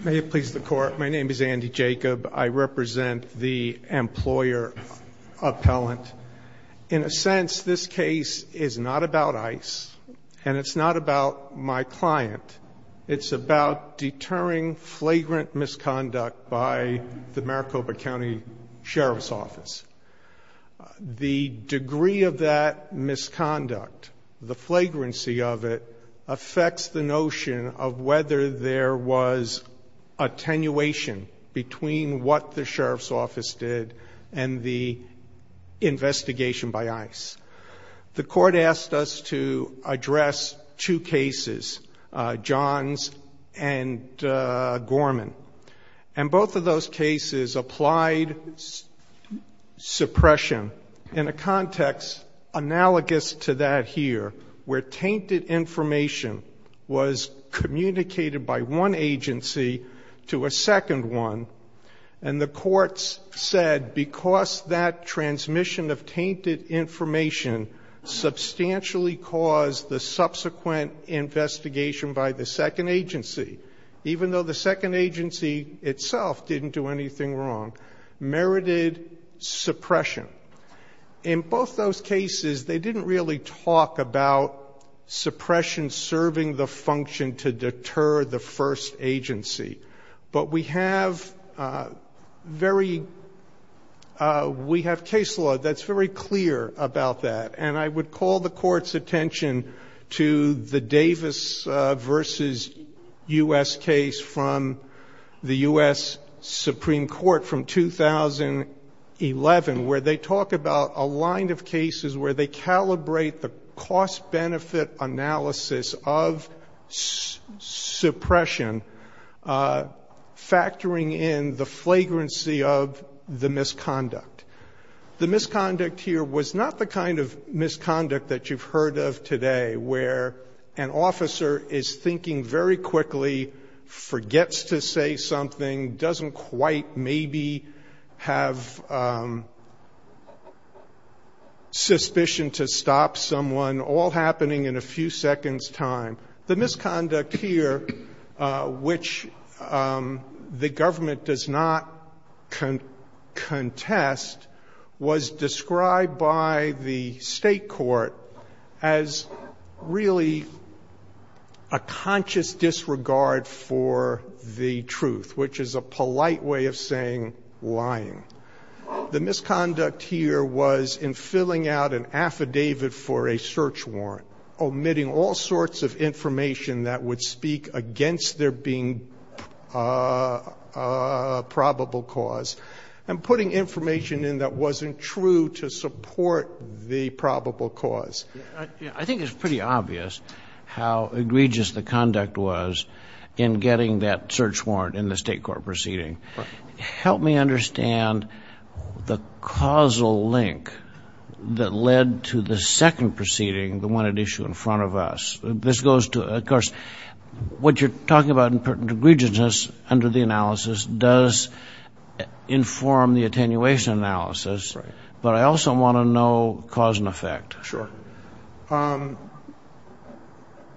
May it please the court, my name is Andy Jacob. I represent the employer appellant. In a sense, this case is not about ICE, and it's not about my client. It's about deterring flagrant misconduct by the Maricopa County Sheriff's Office. The degree of that misconduct, the flagrancy of it, affects the notion of whether there was attenuation between what the Sheriff's Office did and the investigation by ICE. The court asked us to address two cases, Johns and Gorman. And both of those cases applied suppression in a context analogous to that here, where tainted information was communicated by one agency to a second one. And the courts said because that transmission of tainted information substantially caused the subsequent investigation by the second agency, even though the second agency itself didn't do anything wrong, merited suppression. In both those cases, they didn't really talk about suppression serving the function to deter the first agency. But we have case law that's very clear about that. And I would call the court's attention to the Davis v. U.S. case from the U.S. Supreme Court from 2011, where they talk about a line of cases where they calibrate the cost-benefit analysis of suppression, factoring in the flagrancy of the misconduct. The misconduct here was not the kind of misconduct that you've heard of today, where an officer is thinking very quickly, forgets to say something, doesn't quite maybe have suspicion to stop someone, all happening in a few seconds' time. The misconduct here, which the government does not contest, was described by the State court as really a conscious disregard for the truth, which is a polite way of saying lying. The misconduct here was in filling out an affidavit for a search warrant, omitting all sorts of information that would speak against there being probable cause, and putting information in that wasn't true to support the probable cause. I think it's pretty obvious how egregious the conduct was in getting that search warrant in the State court proceeding. Help me understand the causal link that led to the second proceeding, the one at issue in front of us. This goes to, of course, what you're talking about in terms of egregiousness under the analysis does inform the attenuation analysis, but I also want to know cause and effect. Sure.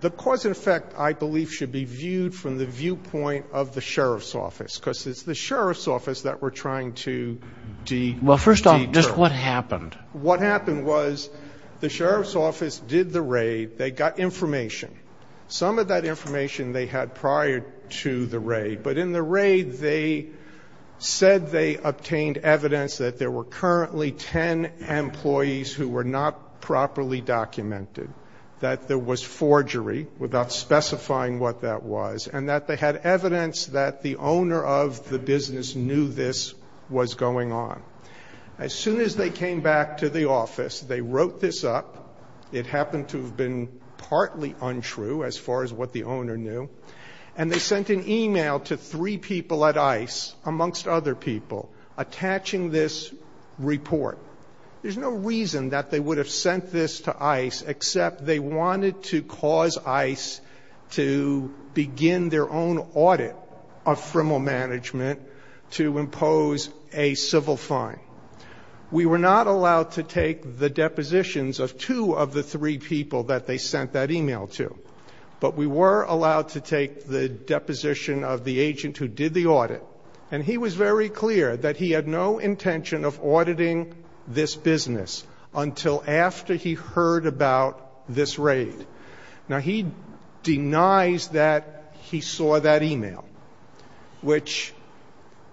The cause and effect, I believe, should be viewed from the viewpoint of the Sheriff's Office, because it's the Sheriff's Office that we're trying to deter. Well, first off, just what happened? What happened was the Sheriff's Office did the raid. They got information. Some of that information they had prior to the raid, but in the raid, they said they obtained evidence that there were currently ten employees who were not properly documented, that there was forgery, without specifying what that was, and that they had evidence that the owner of the business knew this was going on. As soon as they came back to the office, they wrote this up. It happened to have been partly untrue as far as what the owner knew, and they sent an e-mail to three people at ICE, amongst other people, attaching this report. There's no reason that they would have sent this to ICE, except they wanted to cause ICE to begin their own audit of Fremont Management to impose a civil fine. We were not allowed to take the depositions of two of the three people that they sent that e-mail to, but we were allowed to take the deposition of the agent who did the audit, and he was very clear that he had no intention of auditing this business until after he heard about this raid. Now, he denies that he saw that e-mail, which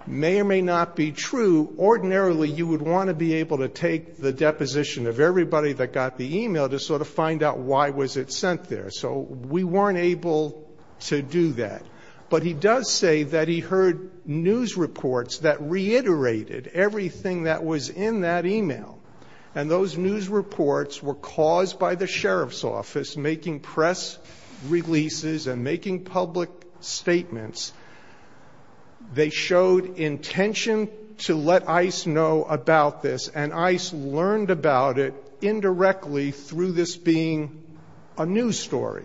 may or may not be true. Ordinarily, you would want to be able to take the deposition of everybody that got the e-mail to sort of find out why was it sent there, so we weren't able to do that. But he does say that he heard news reports that reiterated everything that was in that e-mail, and those news reports were caused by the sheriff's office making press releases and making public statements. They showed intention to let ICE know about this, and ICE learned about it indirectly through this being a news story.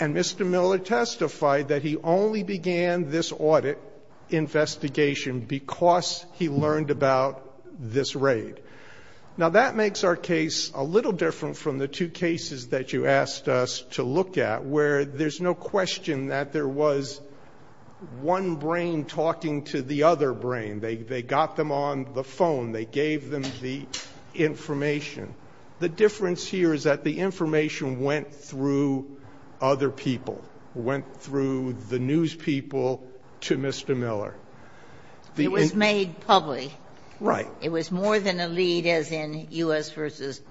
And Mr. Miller testified that he only began this audit investigation because he learned about this raid. Now, that makes our case a little different from the two cases that you asked us to look at, where there's no question that there was one brain talking to the other brain. They got them on the phone. They gave them the information. The difference here is that the information went through other people, went through the news people to Mr. Miller. It was made public. Right. It was more than a lead, as in U.S. v.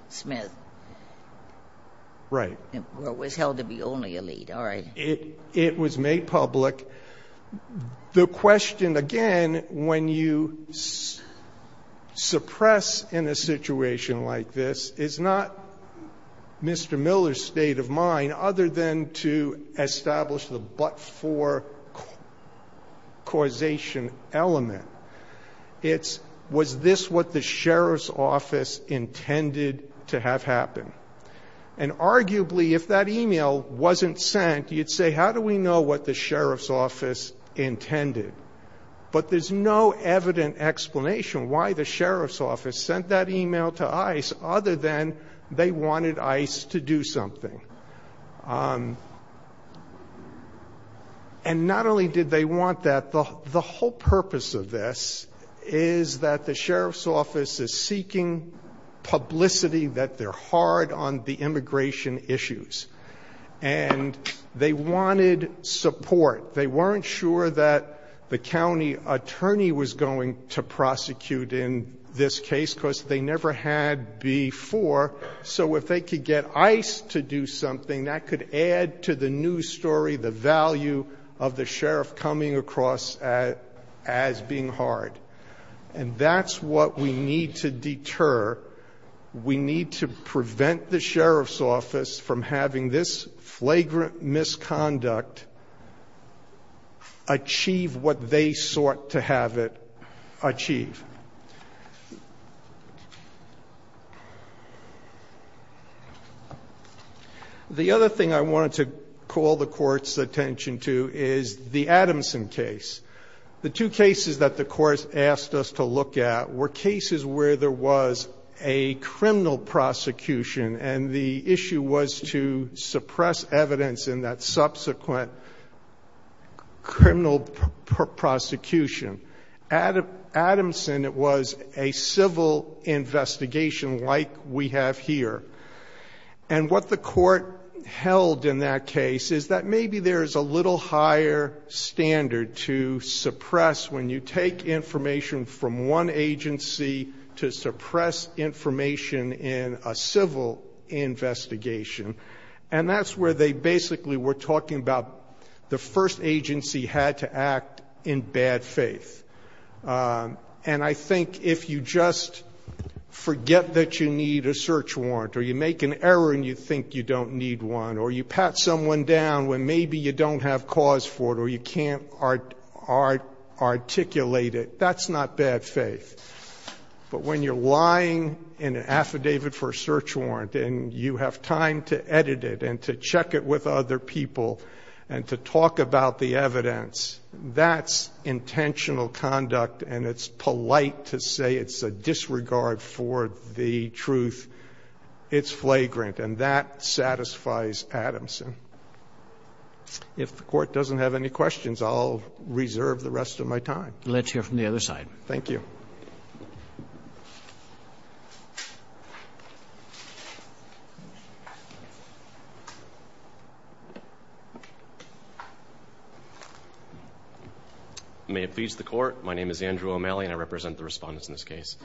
Smith. Right. It was held to be only a lead. All right. It was made public. The question, again, when you suppress in a situation like this, is not Mr. Miller's state of mind other than to establish the but-for causation element. It's was this what the sheriff's office intended to have happen? And arguably, if that e-mail wasn't sent, you'd say, how do we know what the sheriff's office intended? But there's no evident explanation why the sheriff's office sent that e-mail to ICE other than they wanted ICE to do something. And not only did they want that. The whole purpose of this is that the sheriff's office is seeking publicity that they're hard on the immigration issues. And they wanted support. They weren't sure that the county attorney was going to prosecute in this case because they never had before. So if they could get ICE to do something, that could add to the news story, the value of the sheriff coming across as being hard. And that's what we need to deter. We need to prevent the sheriff's office from having this flagrant misconduct achieve what they sought to have it achieve. The other thing I wanted to call the court's attention to is the Adamson case. The two cases that the court asked us to look at were cases where there was a criminal prosecution, and the issue was to suppress evidence in that subsequent criminal prosecution. At Adamson, it was a civil investigation like we have here. And what the court held in that case is that maybe there is a little higher standard to suppress when you take information from one agency to suppress information in a civil investigation. And that's where they basically were talking about the first agency had to act in bad faith. And I think if you just forget that you need a search warrant or you make an error and you think you don't need one, or you pat someone down when maybe you don't have cause for it or you can't articulate it, that's not bad faith. But when you're lying in an affidavit for a search warrant and you have time to edit it and to check it with other people and to talk about the evidence, that's intentional conduct. And it's polite to say it's a disregard for the truth. It's flagrant, and that satisfies Adamson. If the Court doesn't have any questions, I'll reserve the rest of my time. Roberts. Let's hear from the other side. Thank you. May it please the Court. My name is Andrew O'Malley, and I represent the respondents in this case.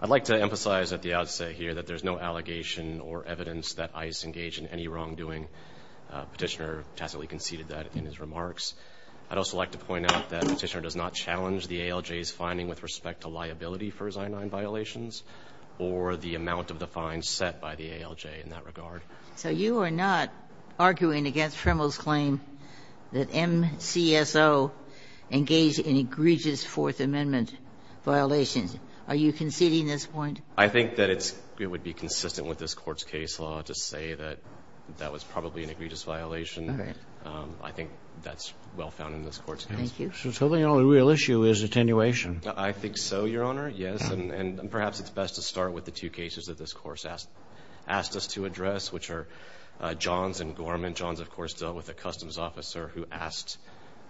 I'd like to emphasize at the outset here that there's no allegation or evidence that ICE engaged in any wrongdoing. Petitioner tacitly conceded that in his remarks. I'd also like to point out that Petitioner does not challenge the ALJ's finding with respect to liability for his I-9 violations or the amount of the fines set by the ALJ in that regard. So you are not arguing against Trimble's claim that MCSO engaged in egregious Fourth Amendment violations. Are you conceding this point? I think that it would be consistent with this Court's case law to say that that was probably an egregious violation. All right. I think that's well found in this Court's case. Thank you. So the only real issue is attenuation. I think so, Your Honor, yes. And perhaps it's best to start with the two cases that this Court has asked us to address, which are Johns and Gorman. Johns, of course, dealt with a customs officer who asked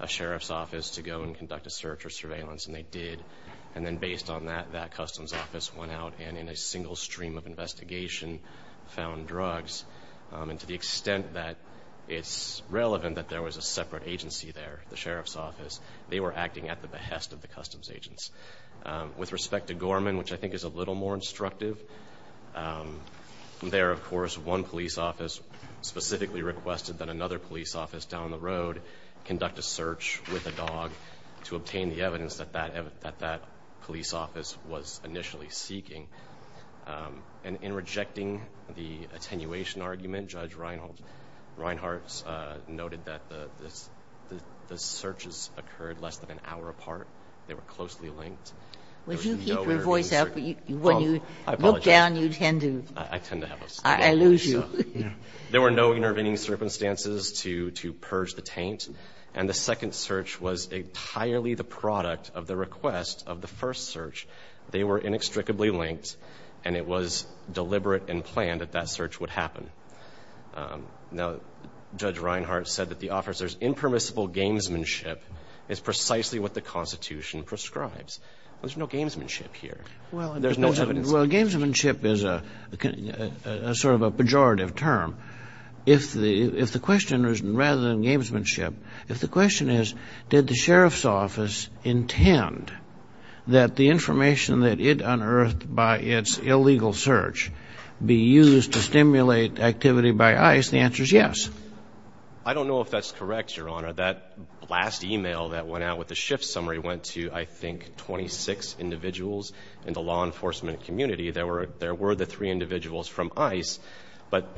a sheriff's office to go and conduct a search or surveillance, and they did. And then based on that, that customs office went out and in a single stream of investigation found drugs. And to the extent that it's relevant that there was a separate agency there, the sheriff's office, they were acting at the behest of the customs agents. With respect to Gorman, which I think is a little more instructive, there, of course, one police office specifically requested that another police office down the road conduct a search with a dog to obtain the evidence that that police office was initially seeking. And in rejecting the attenuation argument, Judge Reinhart noted that the searches occurred less than an hour apart. They were closely linked. There was nowhere in the search. Kagan. I apologize. I tend to have those. I lose you. There were no intervening circumstances to purge the taint, and the second search was entirely the product of the request of the first search. They were inextricably linked, and it was deliberate and planned that that search would happen. Now, Judge Reinhart said that the officer's impermissible gamesmanship is precisely what the Constitution prescribes. There's no gamesmanship here. There's no evidence. Well, gamesmanship is sort of a pejorative term. If the question is, rather than gamesmanship, if the question is, did the sheriff's office intend that the information that it unearthed by its illegal search be used to stimulate activity by ICE, the answer is yes. I don't know if that's correct, Your Honor. That last email that went out with the shift summary went to, I think, 26 individuals in the law enforcement community. There were the three individuals from ICE, but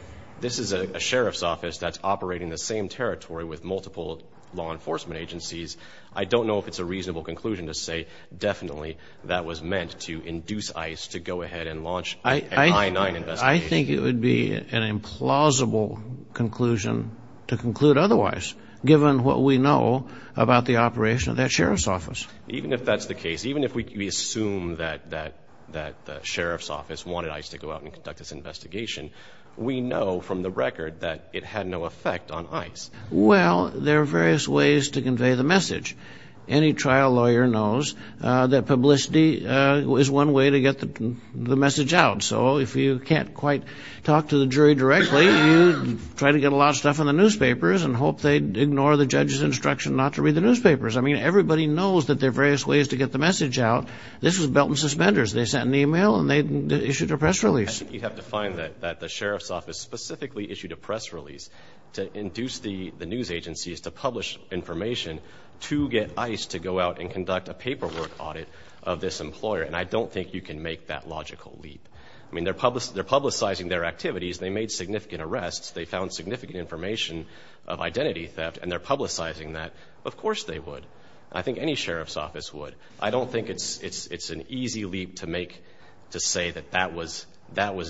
this is a sheriff's office that's operating in the same territory with multiple law enforcement agencies. I don't know if it's a reasonable conclusion to say definitely that was meant to induce ICE to go ahead and launch an I-9 investigation. I think it would be an implausible conclusion to conclude otherwise, given what we know about the operation of that sheriff's office. Even if that's the case, even if we assume that the sheriff's office wanted ICE to go out and conduct this investigation, we know from the record that it had no effect on ICE. Well, there are various ways to convey the message. Any trial lawyer knows that publicity is one way to get the message out. So if you can't quite talk to the jury directly, you try to get a lot of stuff in the newspapers and hope they'd ignore the judge's instruction not to read the newspapers. I mean, everybody knows that there are various ways to get the message out. This was belt and suspenders. They sent an email and they issued a press release. I think you'd have to find that the sheriff's office specifically issued a press release to induce the news agencies to publish information to get ICE to go out and conduct a paperwork audit of this employer, and I don't think you can make that logical leap. I mean, they're publicizing their activities. They made significant arrests. They found significant information of identity theft, and they're publicizing that. Of course they would. I think any sheriff's office would. I don't think it's an easy leap to make to say that that was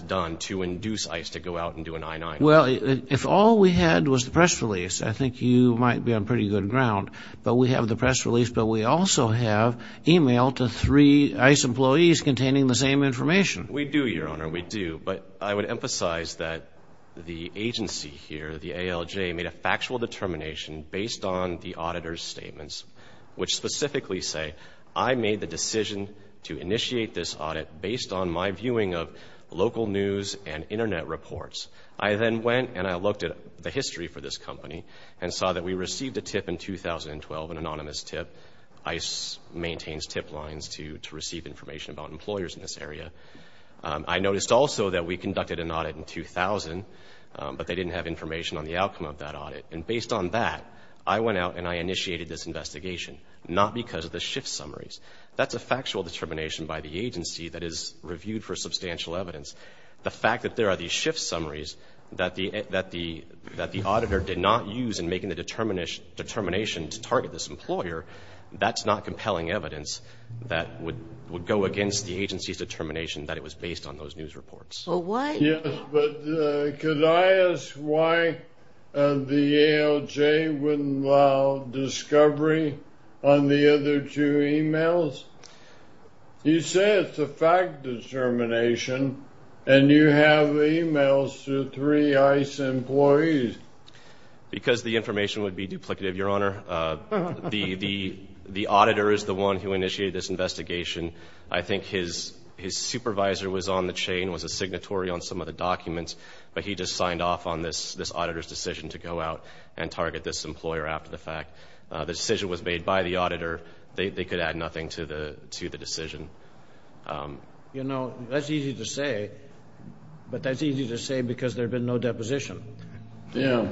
done to induce ICE to go out and do an I-9. Well, if all we had was the press release, I think you might be on pretty good ground. But we have the press release, but we also have email to three ICE employees containing the same information. We do, Your Honor, we do, but I would emphasize that the agency here, the ALJ, made a factual determination based on the auditor's statements, which specifically say, I made the decision to initiate this audit based on my viewing of local news and Internet reports. I then went and I looked at the history for this company and saw that we received a tip in 2012, an anonymous tip. ICE maintains tip lines to receive information about employers in this area. I noticed also that we conducted an audit in 2000, but they didn't have information on the outcome of that audit. And based on that, I went out and I initiated this investigation, not because of the shift summaries. That's a factual determination by the agency that is reviewed for substantial evidence. The fact that there are these shift summaries that the auditor did not use in making the determination to target this employer, that's not compelling evidence that would go against the agency's determination that it was based on those news reports. Well, what? Yes, but could I ask why the ALJ wouldn't allow discovery on the other two emails? You said it's a fact determination and you have emails to three ICE employees. Because the information would be duplicative, Your Honor. The auditor is the one who initiated this investigation. I think his supervisor was on the chain, was a signatory on some of the documents, but he just signed off on this auditor's decision to go out and target this employer after the fact. The decision was made by the auditor. They could add nothing to the decision. You know, that's easy to say, but that's easy to say because there's been no deposition. Yeah.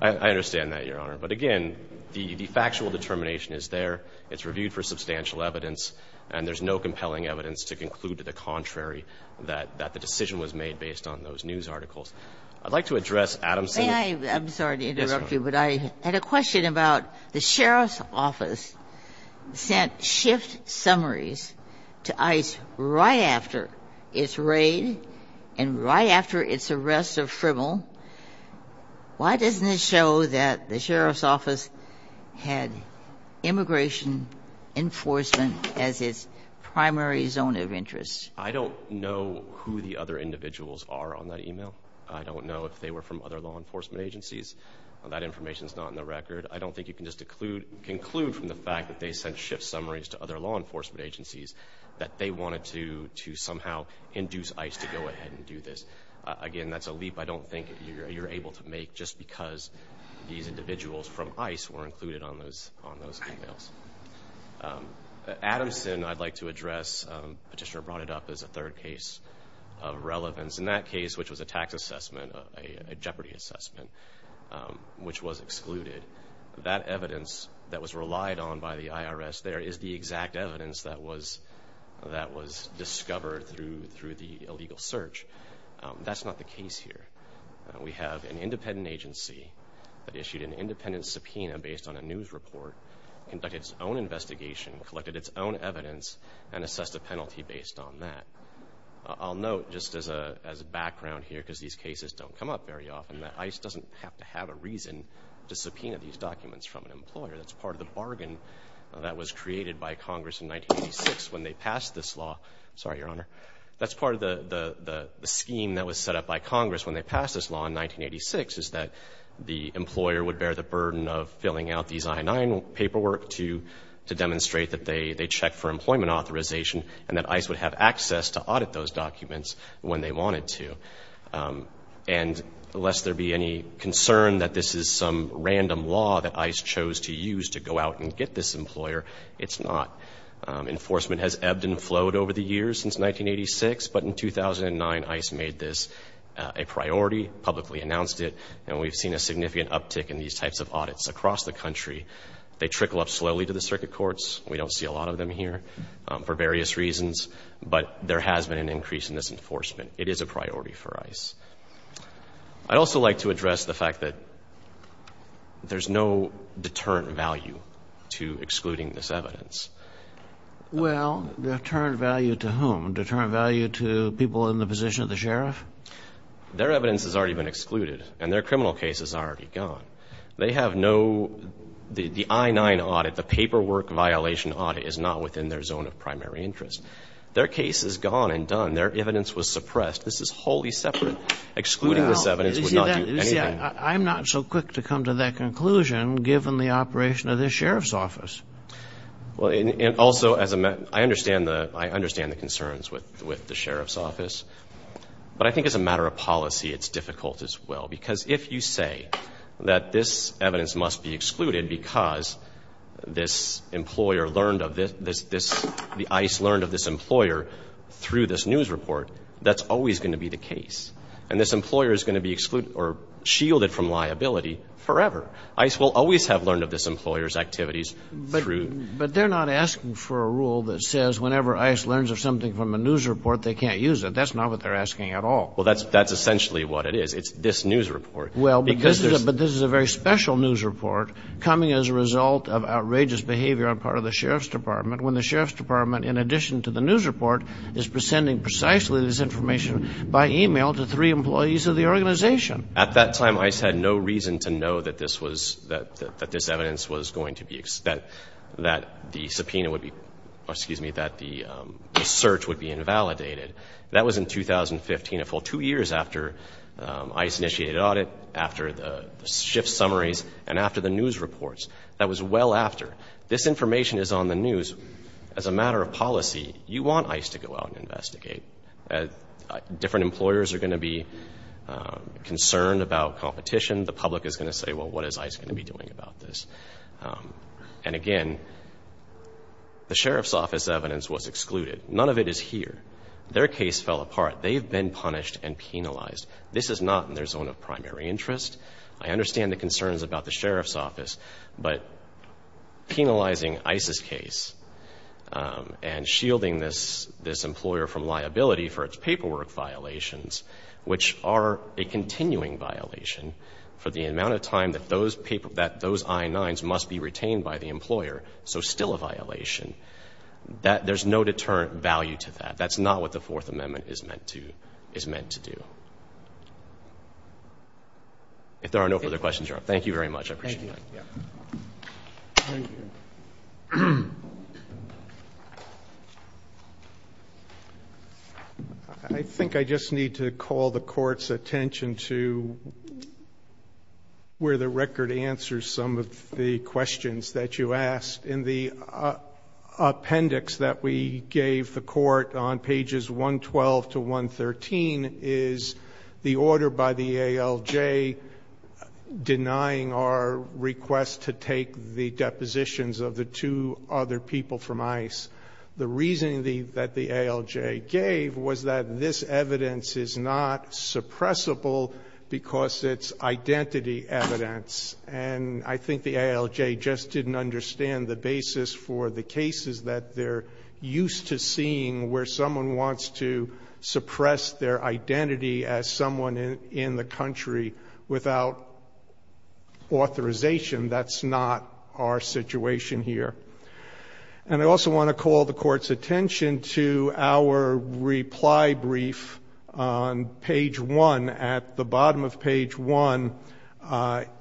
I understand that, Your Honor. But again, the factual determination is there, it's reviewed for substantial evidence, and there's no compelling evidence to conclude to the contrary that the decision was made based on those news articles. I'd like to address Adamson. I'm sorry to interrupt you, but I had a question about the sheriff's office sent shift summaries to ICE right after its raid and right after its arrest of Fribble. Why doesn't it show that the sheriff's office had immigration enforcement as its primary zone of interest? I don't know who the other individuals are on that email. I don't know if they were from other law enforcement agencies. That information is not in the record. I don't think you can just conclude from the fact that they sent shift summaries to other law enforcement agencies that they wanted to somehow induce ICE to go ahead and do this. Again, that's a leap I don't think you're able to make just because these individuals from ICE were included on those emails. Adamson, I'd like to address. Petitioner brought it up as a third case of relevance. In that case, which was a tax assessment, a jeopardy assessment, which was excluded, that evidence that was relied on by the IRS there is the exact evidence that was discovered through the illegal search. That's not the case here. We have an independent agency that issued an independent subpoena based on a news report, conducted its own investigation, collected its own evidence, and assessed a penalty based on that. I'll note just as a background here, because these cases don't come up very often, that ICE doesn't have to have a reason to subpoena these documents from an employer. That's part of the bargain that was created by Congress in 1986 when they passed this law. Sorry, Your Honor. That's part of the scheme that was set up by Congress when they passed this law in 1986, is that the employer would bear the burden of filling out these I-9 paperwork to demonstrate that they check for employment authorization and that ICE would have access to audit those documents when they wanted to. And lest there be any concern that this is some random law that ICE chose to use to go out and get this employer, it's not. Enforcement has ebbed and flowed over the years since 1986, but in 2009, ICE made this a priority, publicly announced it, and we've seen a significant uptick in these types of audits across the country. They trickle up slowly to the circuit courts. We don't see a lot of them here for various reasons, but there has been an increase in this enforcement. It is a priority for ICE. I'd also like to address the fact that there's no deterrent value to excluding this evidence. Well, deterrent value to whom? Deterrent value to people in the position of the sheriff? Their evidence has already been excluded, and their criminal case is already gone. They have no the I-9 audit. The paperwork violation audit is not within their zone of primary interest. Their case is gone and done. Their evidence was suppressed. This is wholly separate. Excluding this evidence would not do anything. I'm not so quick to come to that conclusion, given the operation of this sheriff's office. Well, and also, I understand the concerns with the sheriff's office. But I think as a matter of policy, it's difficult as well. Because if you say that this evidence must be excluded because this employer learned of this, the ICE learned of this employer through this news report, that's always going to be the case. And this employer is going to be excluded or shielded from liability forever. ICE will always have learned of this employer's activities. But they're not asking for a rule that says whenever ICE learns of something from a news report, they can't use it. That's not what they're asking at all. Well, that's essentially what it is. It's this news report. Well, but this is a very special news report coming as a result of outrageous behavior on part of the sheriff's department, when the sheriff's department, in addition to the news report, is presenting precisely this information by e-mail to three employees of the organization. At that time, ICE had no reason to know that this was, that this evidence was going to be, that the subpoena would be, excuse me, that the search would be invalidated. That was in 2015, a full two years after ICE initiated audit, after the shift summaries, and after the news reports. That was well after. This information is on the news. As a matter of policy, you want ICE to go out and investigate. Different employers are going to be concerned about competition. The public is going to say, well, what is ICE going to be doing about this? And, again, the sheriff's office evidence was excluded. None of it is here. Their case fell apart. They've been punished and penalized. This is not in their zone of primary interest. I understand the concerns about the sheriff's office, but penalizing ICE's case and shielding this employer from liability for its paperwork violations, which are a continuing violation for the amount of time that those I-9s must be retained by the employer, so still a violation, there's no deterrent value to that. That's not what the Fourth Amendment is meant to do. If there are no further questions, Your Honor, thank you very much. I appreciate it. Thank you. I think I just need to call the Court's attention to where the record answers some of the questions that you asked. In the appendix that we gave the Court on pages 112 to 113 is the order by the ALJ denying our request to take the depositions of the two other people from ICE. The reasoning that the ALJ gave was that this evidence is not suppressible because it's identity evidence. And I think the ALJ just didn't understand the basis for the cases that they're used to seeing where someone wants to suppress their identity as someone in the country without authorization. That's not our situation here. And I also want to call the Court's attention to our reply brief on page 1. And at the bottom of page 1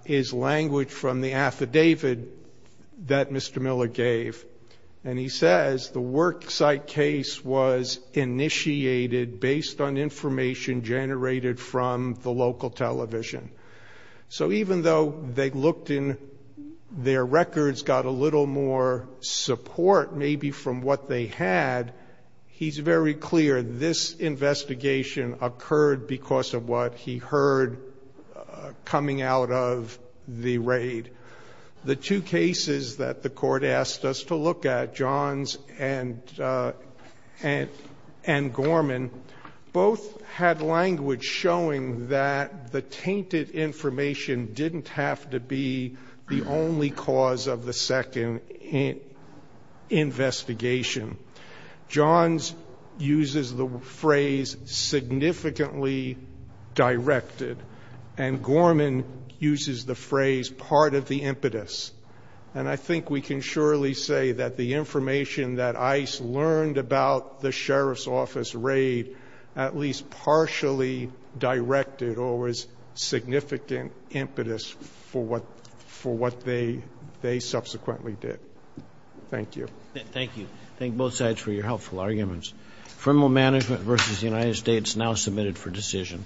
is language from the affidavit that Mr. Miller gave. And he says the worksite case was initiated based on information generated from the local television. So even though they looked in, their records got a little more support maybe from what they had, he's very clear this investigation occurred because of what he heard coming out of the raid. The two cases that the Court asked us to look at, Johns and Gorman, both had language showing that the tainted information didn't have to be the only cause of the second investigation. Johns uses the phrase significantly directed, and Gorman uses the phrase part of the impetus. And I think we can surely say that the information that ICE learned about the sheriff's office raid at least partially directed or was significant impetus for what they subsequently did. Thank you. Thank you. Thank both sides for your helpful arguments. Criminal Management v. United States now submitted for decision.